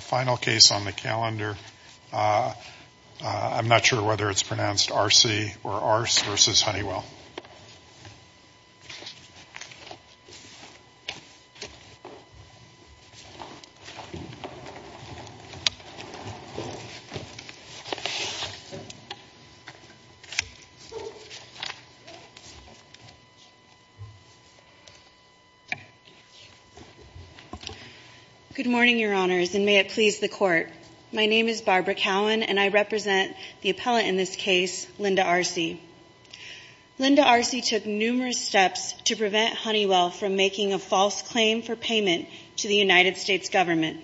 final case on the calendar. I'm not sure whether it's pronounced Arce or Arce v. Honeywell. Good morning, Your Honors, and may it please the Court. My name is Barbara Cowan, and I represent the appellate in this case, Linda Arce. Linda Arce took numerous steps to prevent Honeywell from making a false claim for payment to the United States government.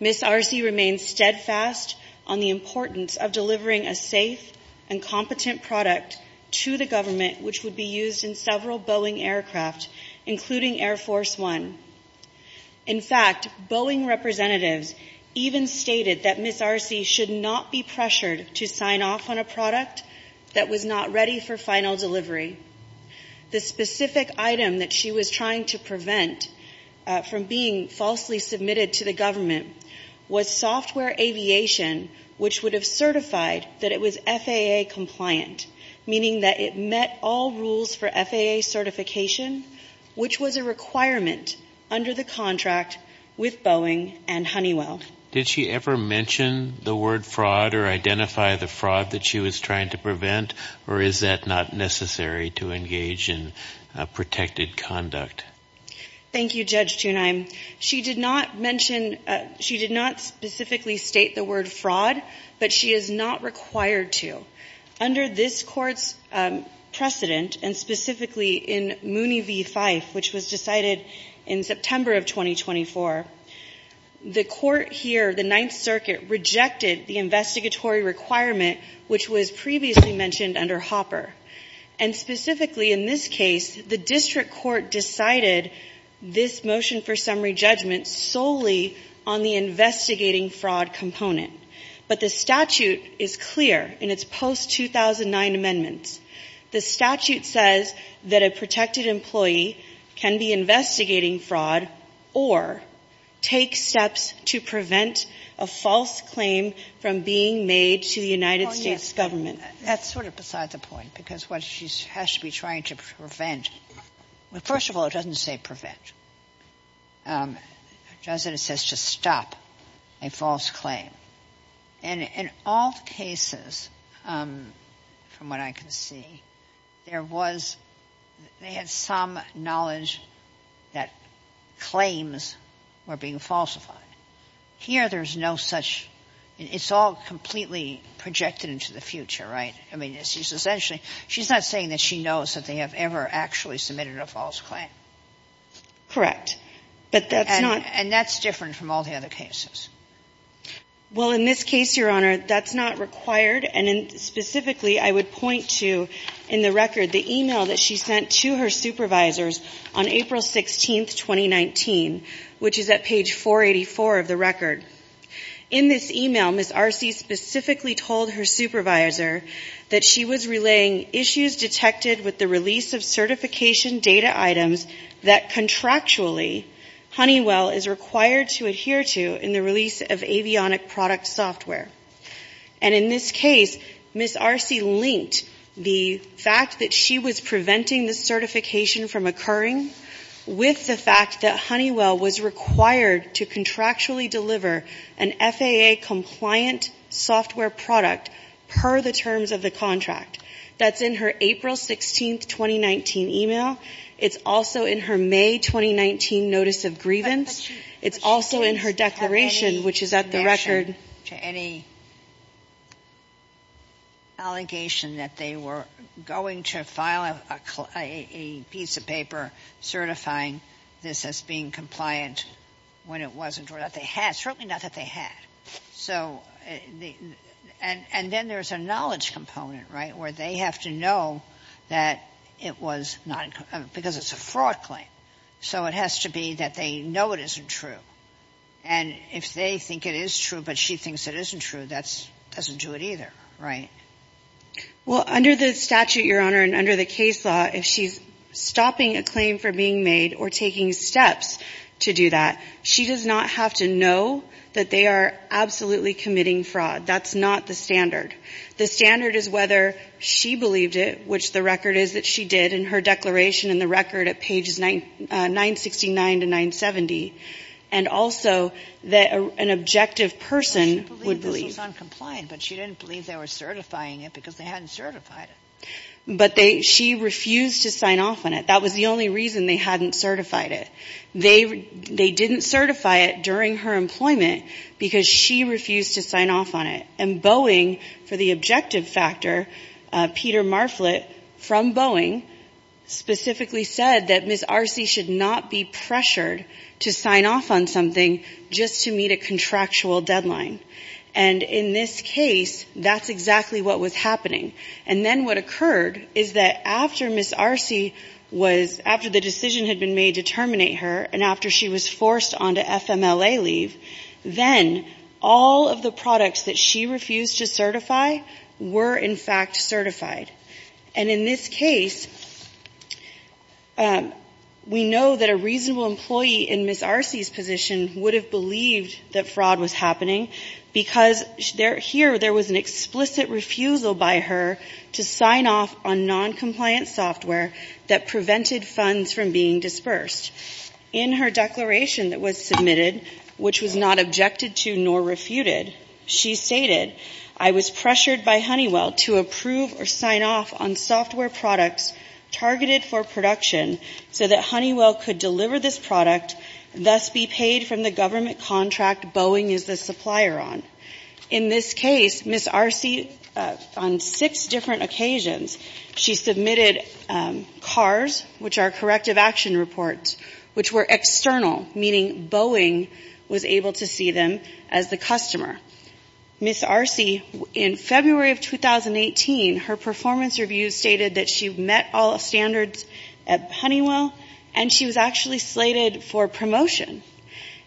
Ms. Arce remains steadfast on the importance of delivering a safe and competent product to the government, which would be used in several Boeing aircraft, including Air Force One. In fact, Boeing representatives even stated that Ms. Arce should not be pressured to sign off on a product that was not ready for final delivery. The specific item that she was trying to prevent from being falsely submitted to the government was software aviation, which would have certified that it was FAA compliant, meaning that it met all rules for FAA certification, which was a requirement under the contract with Boeing and Honeywell. Did she ever mention the word fraud or identify the fraud that she was trying to prevent, or is that not necessary to engage in protected conduct? Thank you, Judge Tunheim. She did not mention – she did not specifically state the word fraud, but she is not required to. Under this Court's precedent, and specifically in Mooney v. Fife, which was decided in September of 2024, the Court here, the Ninth Circuit, rejected the investigatory requirement, which was previously mentioned under Hopper. And specifically in this case, the district court decided this motion for summary judgment solely on the investigating fraud component. But the statute is clear in its post-2009 amendments. The statute says that a protected employee can be investigating fraud or take steps to prevent a false claim from being made to the United States government. That's sort of beside the point, because what she has to be trying to prevent – well, first of all, it doesn't say prevent. It doesn't. It says to stop a false claim. And in all cases, from what I can see, there was – they had some knowledge that claims were being falsified. Here, there's no such – it's all completely projected into the future, right? I mean, she's essentially – she's not saying that she knows that they have ever actually submitted a false claim. Correct. But that's not – And that's different from all the other cases. Well, in this case, Your Honor, that's not required. And specifically, I would point to, in the record, the email that she sent to her supervisors on April 16, 2019, which is at page 484 of the record. In this email, Ms. Arce specifically told her supervisor that she was relaying issues detected with the release of certification data items that contractually, Honeywell is required to adhere to in the release of avionic product software. And in this case, Ms. Arce linked the fact that she was preventing the certification from occurring with the fact that Honeywell was required to contractually deliver an FAA-compliant software product per the terms of the contract. That's in her April 16, 2019 email. It's also in her May 2019 notice of grievance. It's also in her declaration, which is at the record. Any allegation that they were going to file a piece of paper certifying this as being compliant when it wasn't or that they had, certainly not that they had. So the – and then there's a knowledge component, right, where they have to know that it was not – because it's a fraud claim. So it has to be that they know it isn't true. And if they think it is true but she thinks it isn't true, that doesn't do it either, right? Well, under the statute, Your Honor, and under the case law, if she's stopping a claim from being made or taking steps to do that, she does not have to know that they are absolutely committing fraud. That's not the standard. The standard is whether she believed it, which the record is that she did in her declaration in the record at pages 969 to 970, and also that an objective person would believe. Well, she believed this was uncompliant, but she didn't believe they were certifying it because they hadn't certified it. But they – she refused to sign off on it. That was the only reason they hadn't certified it. They didn't certify it during her employment because she refused to sign off on it. And Boeing, for the objective factor, Peter Marflit from Boeing, specifically said that Ms. Arce should not be pressured to sign off on something just to meet a contractual deadline. And in this case, that's exactly what was happening. And then what occurred is that after Ms. Arce was – after the decision had been made to terminate her and after she was forced onto FMLA leave, then all of the products that she refused to certify were, in fact, certified. And in this case, we know that a reasonable employee in Ms. Arce's position would have believed that fraud was happening because here there was an explicit refusal by her to sign off on noncompliant software that prevented funds from being dispersed. In her declaration that was submitted, which was not objected to nor refuted, she stated, I was pressured by Honeywell to approve or sign off on software products targeted for production so that Honeywell could deliver this product and thus be paid from the government contract Boeing is the supplier on. In this case, Ms. Arce, on six different occasions, she submitted CARs, which are corrective action reports, which were external, meaning Boeing was able to see them as the customer. Ms. Arce, in February of 2018, her performance review stated that she met all standards at Honeywell and she was actually slated for promotion.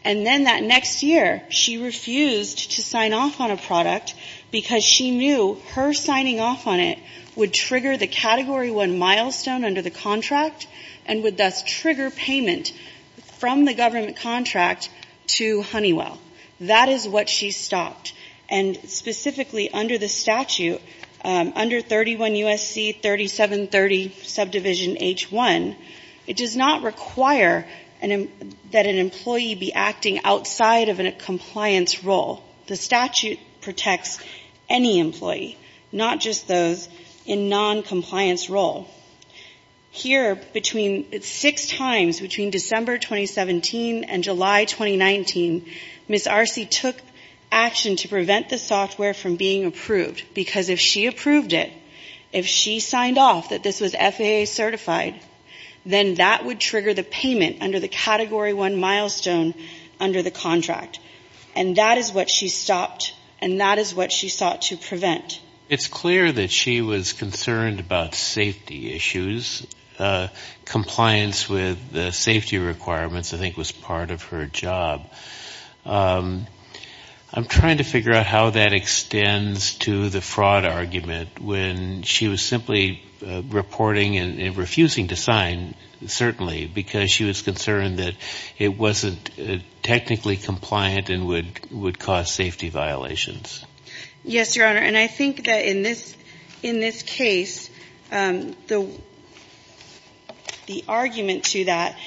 And then that next year, she refused to sign off on a product because she knew her signing off on it would trigger the Category 1 milestone under the contract and would thus trigger payment from the government contract to Honeywell. That is what she stopped. And specifically under the statute, under 31 U.S.C. 3730 subdivision H1, it does not require that an employee be acting outside of a compliance role. The statute protects any employee, not just those in noncompliance role. Here, between six times, between December 2017 and July 2019, Ms. Arce took action to prevent the software from being approved. Because if she approved it, if she signed off that this was FAA certified, then that would trigger the payment under the Category 1 milestone under the contract. And that is what she stopped and that is what she sought to prevent. It's clear that she was concerned about safety issues. Compliance with the safety requirements, I think, was part of her job. I'm trying to figure out how that extends to the fraud argument when she was simply reporting and refusing to sign, certainly because she was concerned that it wasn't technically compliant and would cause safety violations. Yes, Your Honor. And I think that in this case, the argument to that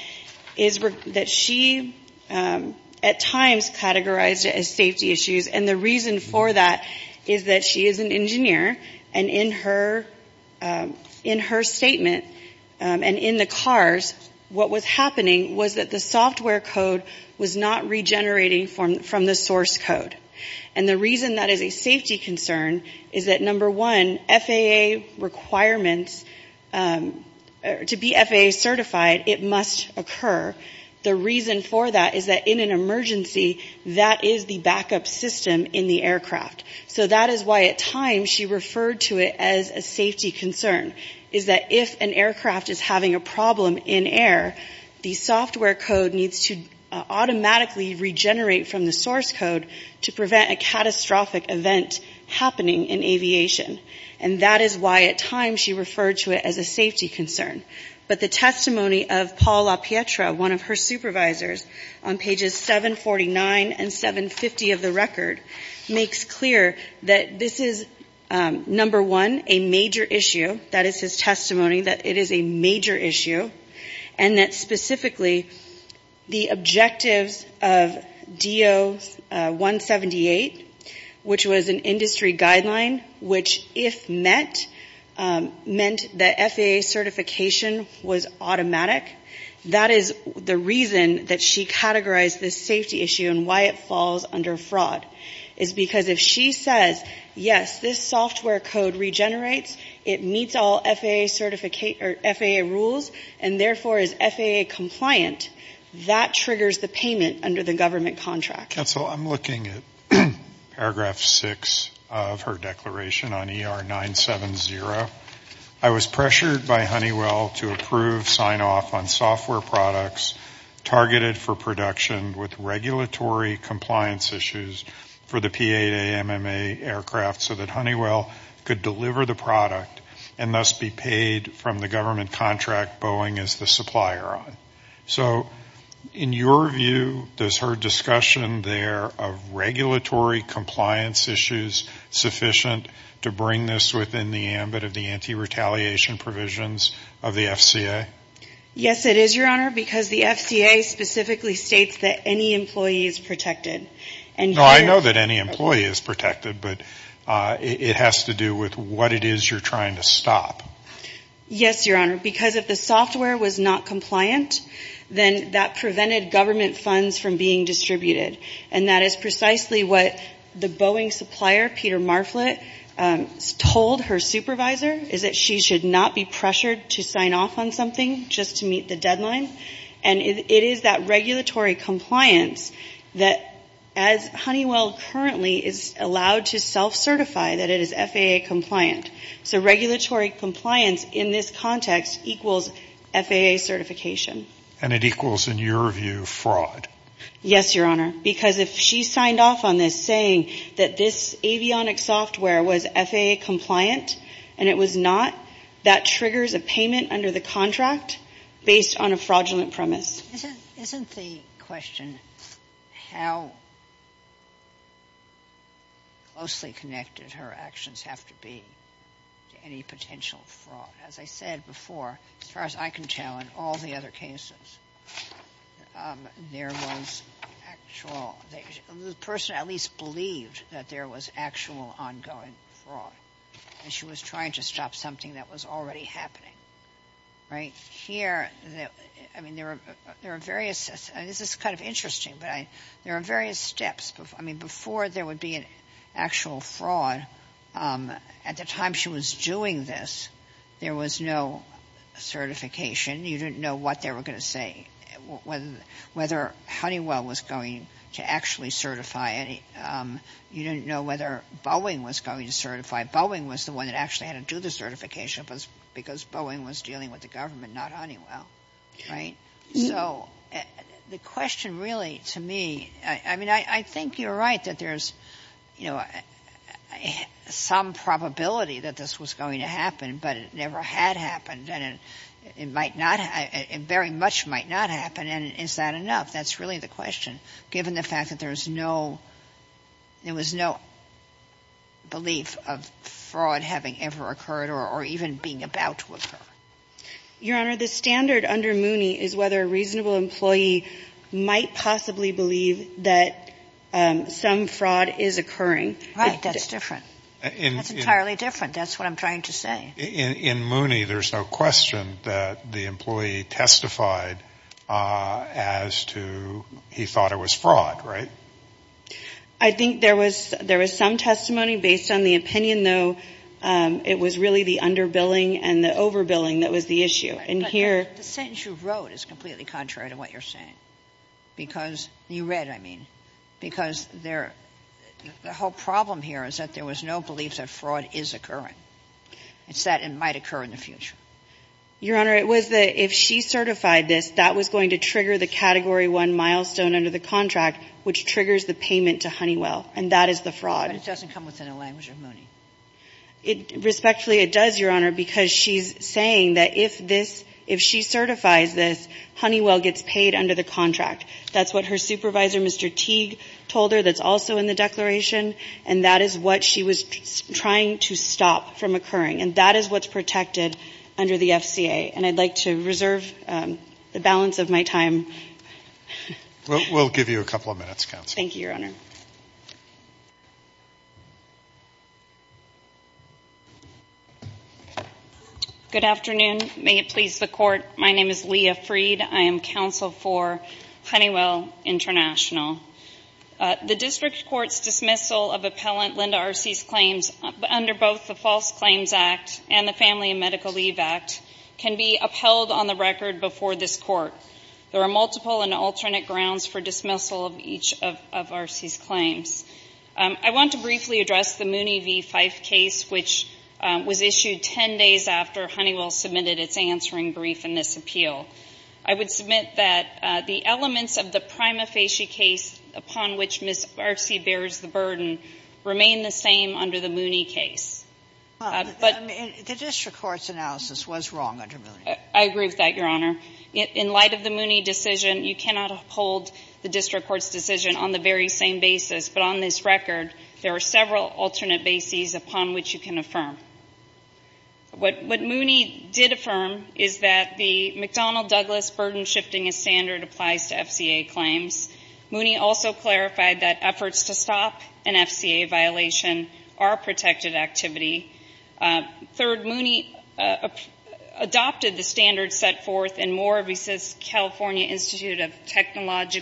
is that she at times categorized it as safety issues. And the reason for that is that she is an engineer. And in her statement and in the cars, what was happening was that the software code was not regenerating from the source code. And the reason that is a safety concern is that, number one, FAA requirements, to be FAA certified, it must occur. The reason for that is that in an emergency, that is the backup system in the aircraft. So that is why at times she referred to it as a safety concern, is that if an aircraft is having a problem in air, the software code needs to automatically regenerate from the source code to prevent a catastrophic event happening in aviation. And that is why at times she referred to it as a safety concern. But the testimony of Paul LaPietra, one of her supervisors, on pages 749 and 750 of the record, makes clear that this is, number one, a major issue. That is his testimony that it is a major issue. And that specifically the objectives of DO-178, which was an industry guideline, which if met, meant that FAA certification was automatic. That is the reason that she categorized this safety issue and why it falls under fraud. It is because if she says, yes, this software code regenerates, it meets all FAA rules, and therefore is FAA compliant, that triggers the payment under the government contract. Counsel, I am looking at paragraph 6 of her declaration on ER 970. I was pressured by Honeywell to approve sign-off on software products targeted for production with regulatory compliance issues for the P-8AMMA aircraft so that Honeywell could deliver the product and thus be paid from the government contract Boeing is the supplier on. So in your view, does her discussion there of regulatory compliance issues sufficient to bring this within the ambit of the anti-retaliation provisions of the FCA? Yes, it is, Your Honor, because the FCA specifically states that any employee is protected. No, I know that any employee is protected, but it has to do with what it is you're trying to stop. Yes, Your Honor, because if the software was not compliant, then that prevented government funds from being distributed. And that is precisely what the Boeing supplier, Peter Marflett, told her supervisor, is that she should not be pressured to sign off on something just to meet the deadline. And it is that regulatory compliance that, as Honeywell currently is allowed to self-certify that it is FAA compliant. So regulatory compliance in this context equals FAA certification. And it equals, in your view, fraud. Yes, Your Honor, because if she signed off on this saying that this avionics software was FAA compliant and it was not, that triggers a payment under the contract based on a fraudulent premise. Isn't the question how closely connected her actions have to be to any potential fraud? As I said before, as far as I can tell in all the other cases, there was actual the person at least believed that there was actual ongoing fraud. And she was trying to stop something that was already happening. Right here, I mean, there are various, this is kind of interesting, but there are various steps. I mean, before there would be an actual fraud, at the time she was doing this, there was no certification. You didn't know what they were going to say, whether Honeywell was going to actually certify it. You didn't know whether Boeing was going to certify it. Boeing was the one that actually had to do the certification because Boeing was dealing with the government, not Honeywell. Right? So the question really, to me, I mean, I think you're right that there's some probability that this was going to happen, but it never had happened, and it might not, very much might not happen. And is that enough? That's really the question, given the fact that there's no, there was no belief of fraud having ever occurred or even being about to occur. Your Honor, the standard under Mooney is whether a reasonable employee might possibly believe that some fraud is occurring. Right. That's different. That's entirely different. That's what I'm trying to say. In Mooney, there's no question that the employee testified as to he thought it was fraud. Right? I think there was some testimony based on the opinion, though, it was really the underbilling and the overbilling that was the issue. And here But the sentence you wrote is completely contrary to what you're saying. Because, you read, I mean, because the whole problem here is that there was no belief that fraud is occurring. It's that it might occur in the future. Your Honor, it was that if she certified this, that was going to trigger the Category 1 milestone under the contract, which triggers the payment to Honeywell. And that is the fraud. But it doesn't come within the language of Mooney. Respectfully, it does, Your Honor, because she's saying that if this, if she certifies this, Honeywell gets paid under the contract. That's what her supervisor, Mr. Teague, told her that's also in the declaration, and that is what she was trying to stop from occurring. And that is what's protected under the FCA. And I'd like to reserve the balance of my time. We'll give you a couple of minutes, Counsel. Thank you, Your Honor. Good afternoon. May it please the Court. My name is Leah Freed. I am counsel for Honeywell International. The district court's dismissal of appellant Linda Arce's claims under both the False Claims Act and the Family and Medical Leave Act can be upheld on the record before this court. There are multiple and alternate grounds for dismissal of each of Arce's claims. I want to briefly address the Mooney v. Fife case, which was issued 10 days after Honeywell submitted its answering brief in this appeal. I would submit that the elements of the prima facie case upon which Ms. Arce bears the burden remain the same under the Mooney case. But the district court's analysis was wrong under Mooney. I agree with that, Your Honor. In light of the Mooney decision, you cannot uphold the district court's decision on the very same basis. But on this record, there are several alternate bases upon which you can affirm. What Mooney did affirm is that the McDonnell-Douglas burden-shifting as standard applies to FCA claims. Mooney also clarified that efforts to stop an FCA violation are protected activity. Third, Mooney adopted the standards set forth in Moore v. California Institute of Technology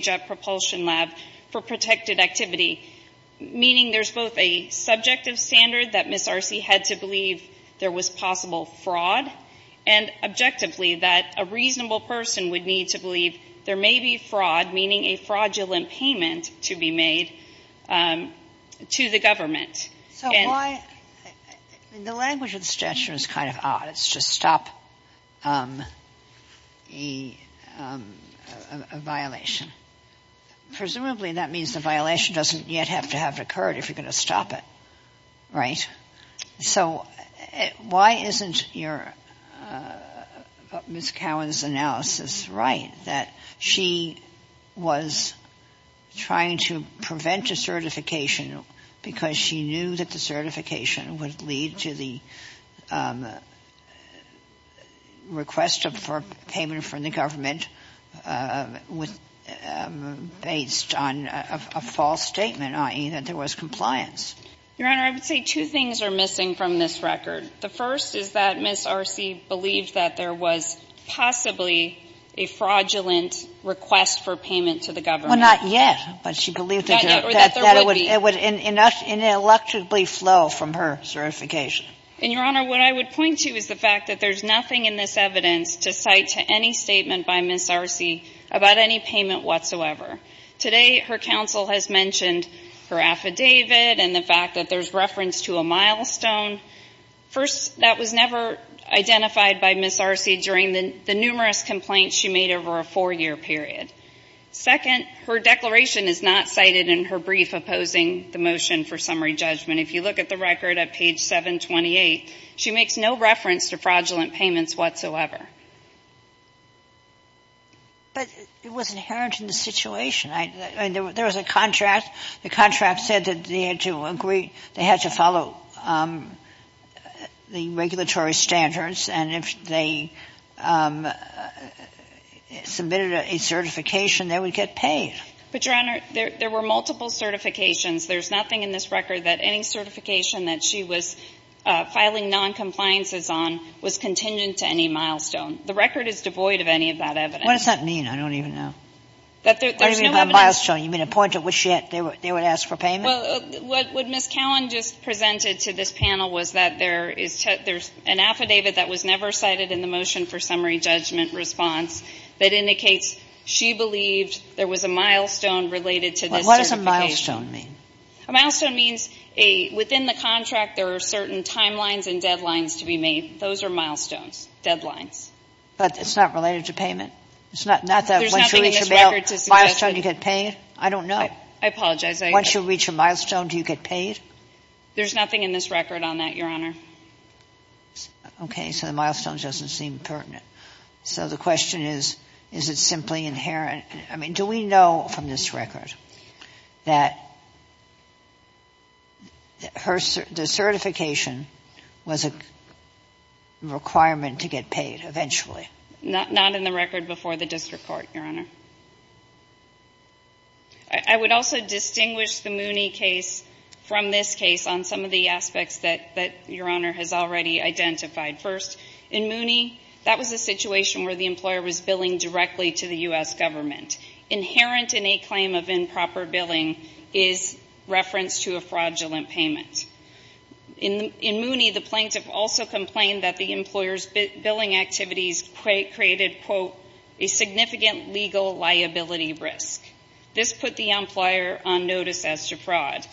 Jet Propulsion Lab for protected activity, meaning there's both a subjective standard that Ms. Arce had to believe there was possible fraud and, objectively, that a reasonable person would need to believe there may be fraud, meaning a fraudulent payment to be made to the government. And the language of the suggestion is kind of odd. It's just stop a violation. Presumably that means the violation doesn't yet have to have occurred if you're going to stop it, right? So why isn't Ms. Cowan's analysis right, that she was trying to prevent a certification because she knew that the certification would lead to the request for payment from the government based on a false statement, i.e. that there was compliance? Your Honor, I would say two things are missing from this record. The first is that Ms. Arce believed that there was possibly a fraudulent request for payment to the government. Well, not yet. But she believed that it would ineluctably flow from her certification. And, Your Honor, what I would point to is the fact that there's nothing in this evidence to cite to any statement by Ms. Arce about any payment whatsoever. Today, her counsel has mentioned her affidavit and the fact that there's reference to a milestone. First, that was never identified by Ms. Arce during the numerous complaints she made over a four-year period. Second, her declaration is not cited in her brief opposing the motion for summary judgment. If you look at the record at page 728, she makes no reference to fraudulent payments whatsoever. But it was inherent in the situation. I mean, there was a contract. The contract said that they had to agree they had to follow the regulatory standards, and if they submitted a certification, they would get paid. But, Your Honor, there were multiple certifications. There's nothing in this record that any certification that she was filing noncompliances on was contingent to any milestone. The record is devoid of any of that evidence. What does that mean? I don't even know. That there's no evidence. What do you mean by milestone? You mean a point at which they would ask for payment? Well, what Ms. Cowan just presented to this panel was that there is an affidavit that was never cited in the motion for summary judgment response that indicates she believed there was a milestone related to this certification. What does a milestone mean? A milestone means within the contract there are certain timelines and deadlines to be made. Those are milestones, deadlines. But it's not related to payment? It's not that once you reach a milestone, you get paid? I don't know. I apologize. Once you reach a milestone, do you get paid? There's nothing in this record on that, Your Honor. Okay. So the milestone doesn't seem pertinent. So the question is, is it simply inherent? I mean, do we know from this record that the certification was a requirement to get paid eventually? Not in the record before the district court, Your Honor. I would also distinguish the Mooney case from this case on some of the aspects that Your Honor has already identified. First, in Mooney, that was a situation where the employer was billing directly to the U.S. government. Inherent in a claim of improper billing is reference to a fraudulent payment. In Mooney, the plaintiff also complained that the employer's billing activities created, quote, a significant legal liability risk. This put the employer on notice as to fraud.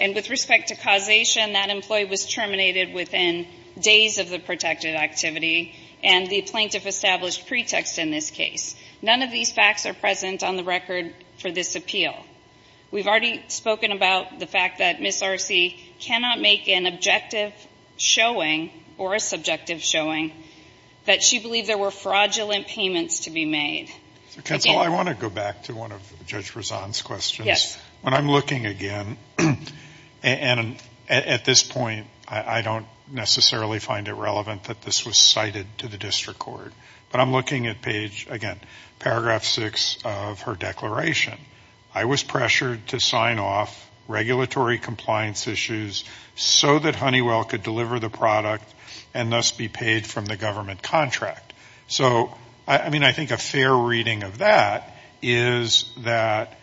And with respect to causation, that employee was terminated within days of the protected activity and the plaintiff established pretext in this case. None of these facts are present on the record for this appeal. We've already spoken about the fact that Ms. Arce cannot make an objective showing or a subjective showing that she believed there were fraudulent payments to be made. Counsel, I want to go back to one of Judge Rezan's questions. Yes. When I'm looking again, and at this point I don't necessarily find it relevant that this was cited to the district court, but I'm looking at page, again, paragraph 6 of her declaration. I was pressured to sign off regulatory compliance issues so that Honeywell could deliver the product and thus be paid from the government contract. So, I mean, I think a fair reading of that is that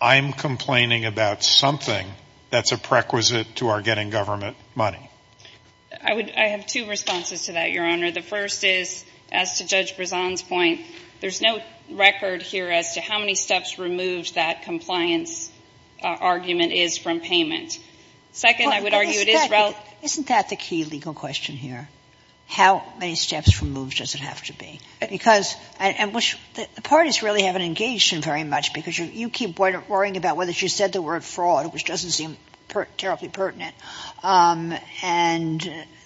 I'm complaining about something that's a prerequisite to our getting government money. I have two responses to that, Your Honor. The first is, as to Judge Rezan's point, there's no record here as to how many steps removed that compliance argument is from payment. Second, I would argue it is relevant. Isn't that the key legal question here? How many steps removed does it have to be? Because, and which the parties really haven't engaged in very much because you keep worrying about whether she said the word fraud, which doesn't seem terribly pertinent. And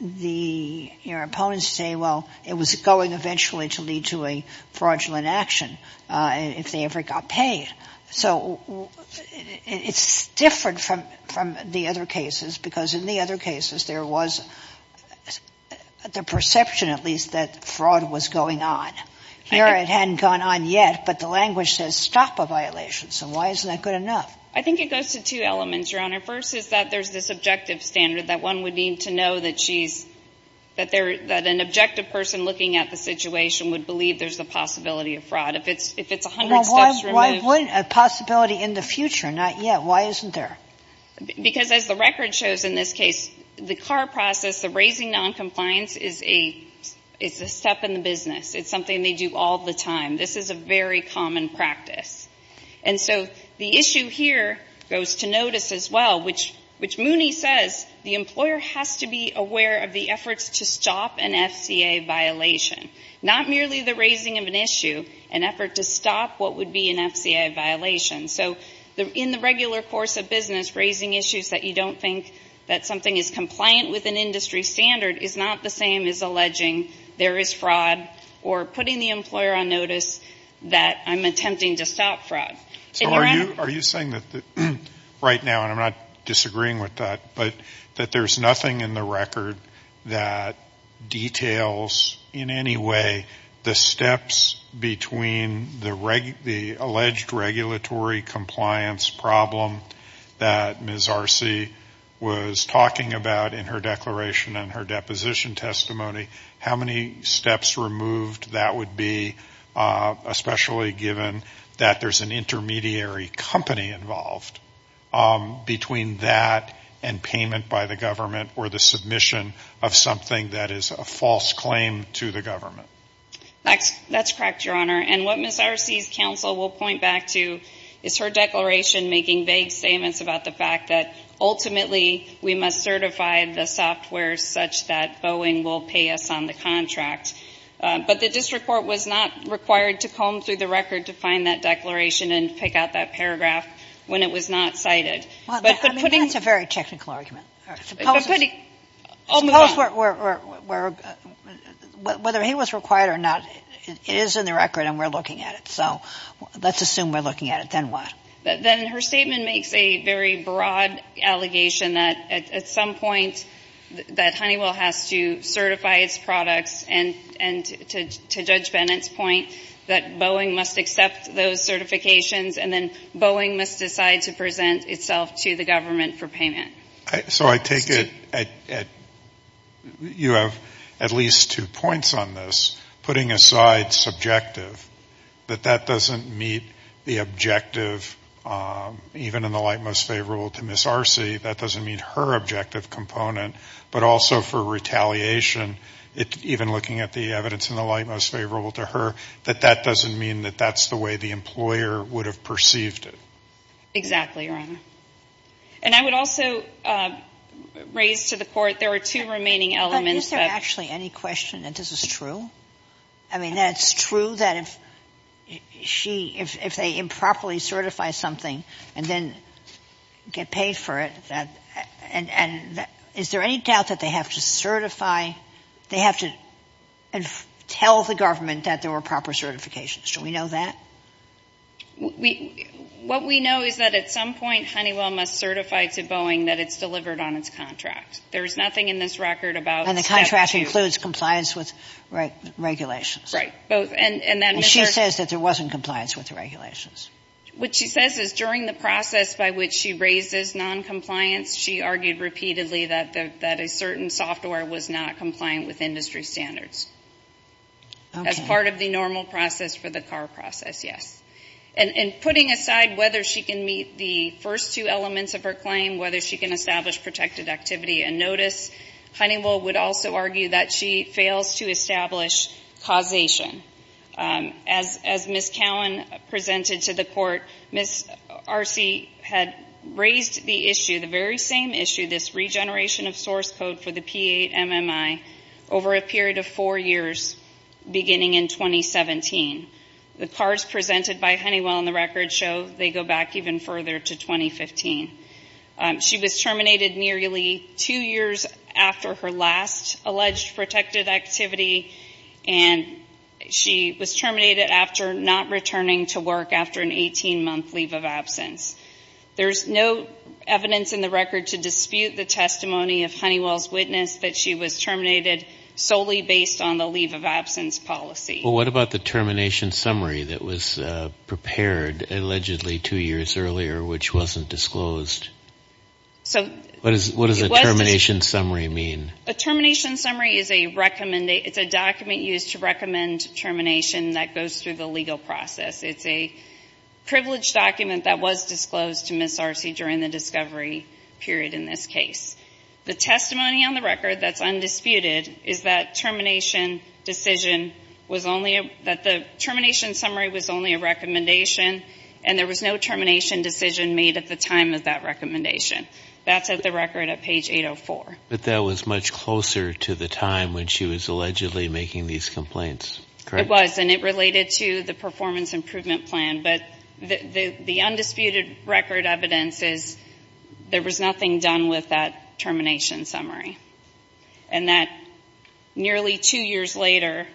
the opponents say, well, it was going eventually to lead to a fraudulent action if they ever got paid. So it's different from the other cases because in the other cases there was the perception, at least, that fraud was going on. Here it hadn't gone on yet, but the language says stop a violation. So why isn't that good enough? I think it goes to two elements, Your Honor. First is that there's this objective standard that one would need to know that she's, that an objective person looking at the situation would believe there's a possibility of fraud. If it's 100 steps removed. Well, why wouldn't, a possibility in the future, not yet. Why isn't there? Because as the record shows in this case, the CAR process, the raising noncompliance is a step in the business. It's something they do all the time. This is a very common practice. And so the issue here goes to notice as well, which Mooney says the employer has to be aware of the efforts to stop an FCA violation. Not merely the raising of an issue, an effort to stop what would be an FCA violation. So in the regular course of business, raising issues that you don't think that something is compliant with an industry standard is not the same as alleging there is fraud or putting the employer on notice that I'm attempting to stop fraud. So are you saying that right now, and I'm not disagreeing with that, but that there's nothing in the record that details in any way the steps between the alleged regulatory compliance problem that Ms. Arce was talking about in her declaration and her deposition testimony? How many steps removed that would be, especially given that there's an intermediary company involved between that and payment by the government or the submission of something that is a false claim to the government? That's correct, Your Honor. And what Ms. Arce's counsel will point back to is her declaration making vague statements about the fact that ultimately we must certify the software such that Boeing will pay us on the contract. But the district court was not required to comb through the record to find that declaration and pick out that paragraph when it was not cited. But putting the ---- Well, I mean, that's a very technical argument. Suppose ---- But putting ---- Whether he was required or not, it is in the record and we're looking at it. So let's assume we're looking at it. Then what? Then her statement makes a very broad allegation that at some point that Honeywell has to certify its products and, to Judge Bennett's point, that Boeing must accept those certifications and then Boeing must decide to present itself to the government for payment. So I take it you have at least two points on this. Putting aside subjective, that that doesn't meet the objective, even in the light most favorable to Ms. Arce, that doesn't meet her objective component. But also for retaliation, even looking at the evidence in the light most favorable to her, that that doesn't mean that that's the way the employer would have perceived it. Exactly, Your Honor. And I would also raise to the Court there are two remaining elements of ---- Is there actually any question that this is true? I mean, that it's true that if she ---- if they improperly certify something and then get paid for it, and is there any doubt that they have to certify ---- they have to tell the government that there were proper certifications? Do we know that? What we know is that at some point Honeywell must certify to Boeing that it's delivered on its contract. There is nothing in this record about ---- And the contract includes compliance with regulations. Right, both. And she says that there wasn't compliance with the regulations. What she says is during the process by which she raises noncompliance, she argued repeatedly that a certain software was not compliant with industry standards. Okay. As part of the normal process for the car process, yes. And putting aside whether she can meet the first two elements of her claim, whether she can establish protected activity and notice, Honeywell would also argue that she fails to establish causation. As Ms. Cowan presented to the Court, Ms. Arce had raised the issue, the very same issue, this regeneration of source code for the P-8 MMI, over a period of four years beginning in 2017. The cards presented by Honeywell in the record show they go back even further to 2015. She was terminated nearly two years after her last alleged protected activity, and she was terminated after not returning to work after an 18-month leave of absence. There's no evidence in the record to dispute the testimony of Honeywell's terminated solely based on the leave of absence policy. Well, what about the termination summary that was prepared, allegedly two years earlier, which wasn't disclosed? What does a termination summary mean? A termination summary is a document used to recommend termination that goes through the legal process. It's a privileged document that was disclosed to Ms. Arce during the discovery period in this case. The testimony on the record that's undisputed is that termination decision was only a, that the termination summary was only a recommendation and there was no termination decision made at the time of that recommendation. That's at the record at page 804. But that was much closer to the time when she was allegedly making these complaints, correct? It was, and it related to the performance improvement plan. But the undisputed record evidence is there was nothing done with that termination summary. And that nearly two years later,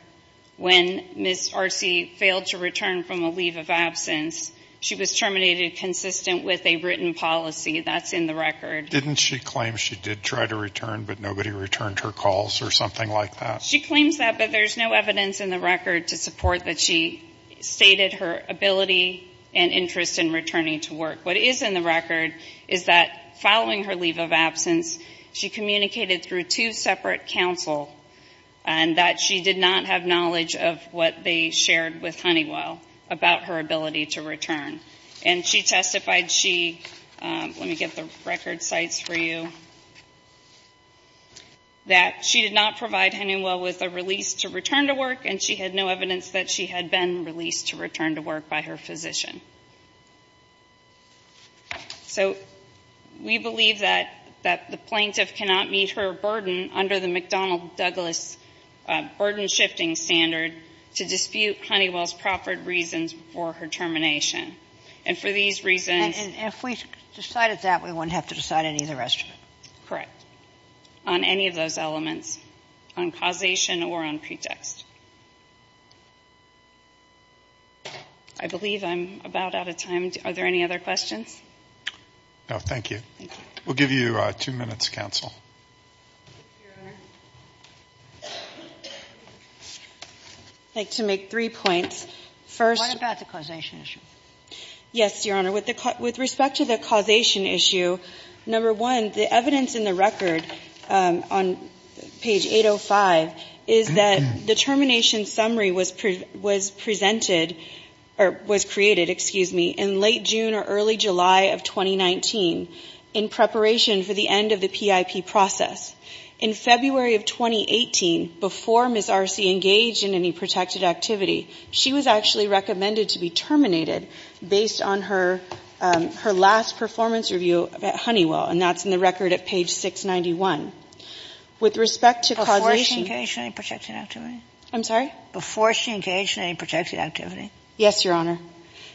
when Ms. Arce failed to return from a leave of absence, she was terminated consistent with a written policy. That's in the record. Didn't she claim she did try to return, but nobody returned her calls or something like that? She claims that, but there's no evidence in the record to support that she stated her ability and interest in returning to work. What is in the record is that following her leave of absence, she communicated through two separate counsel, and that she did not have knowledge of what they shared with Honeywell about her ability to return. And she testified she, let me get the record sites for you, that she did not provide Honeywell with a release to return to work, and she had no evidence that she had been released to return to work by her physician. So we believe that the plaintiff cannot meet her burden under the McDonnell Douglas burden-shifting standard to dispute Honeywell's proffered reasons for her termination. And for these reasons ---- And if we decided that, we wouldn't have to decide any of the rest of it. Correct. On any of those elements, on causation or on pretext. I believe I'm about out of time. Are there any other questions? No. Thank you. Thank you. We'll give you two minutes, counsel. Your Honor, I'd like to make three points. First ---- What about the causation issue? Yes, Your Honor. With respect to the causation issue, number one, the evidence in the record on page 805 is that the termination summary was presented or was created, excuse me, in late June or early July of 2019 in preparation for the end of the PIP process. In February of 2018, before Ms. Arce engaged in any protected activity, she was actually recommended to be terminated based on her last performance review at Honeywell, and that's in the record at page 691. With respect to causation ---- Before she engaged in any protected activity? I'm sorry? Before she engaged in any protected activity. Yes, Your Honor.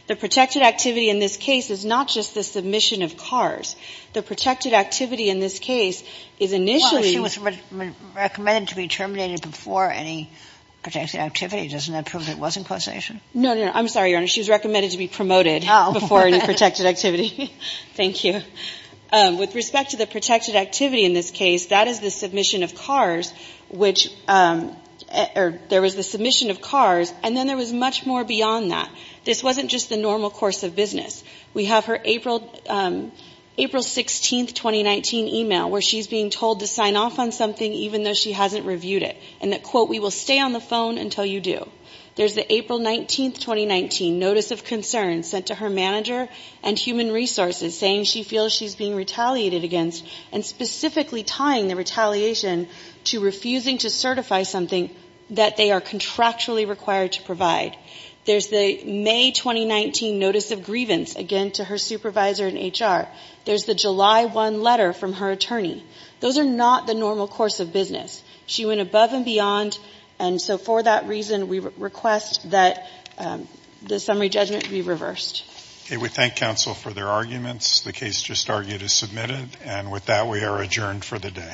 The protected activity in this case is not just the submission of cars. The protected activity in this case is initially ---- Well, she was recommended to be terminated before any protected activity. Doesn't that prove it wasn't causation? No, no, no. I'm sorry, Your Honor. She was recommended to be promoted before any protected activity. Thank you. With respect to the protected activity in this case, that is the submission of cars, which there was the submission of cars, and then there was much more beyond that. This wasn't just the normal course of business. We have her April 16, 2019, email where she's being told to sign off on something even though she hasn't reviewed it, and that, quote, we will stay on the phone until you do. There's the April 19, 2019 notice of concern sent to her manager and human resources saying she feels she's being retaliated against and specifically tying the retaliation to refusing to certify something that they are contractually required to provide. There's the May 2019 notice of grievance, again, to her supervisor in HR. There's the July 1 letter from her attorney. Those are not the normal course of business. She went above and beyond, and so for that reason, we request that the summary judgment be reversed. Okay, we thank counsel for their arguments. The case just argued is submitted, and with that, we are adjourned for the day. All rise.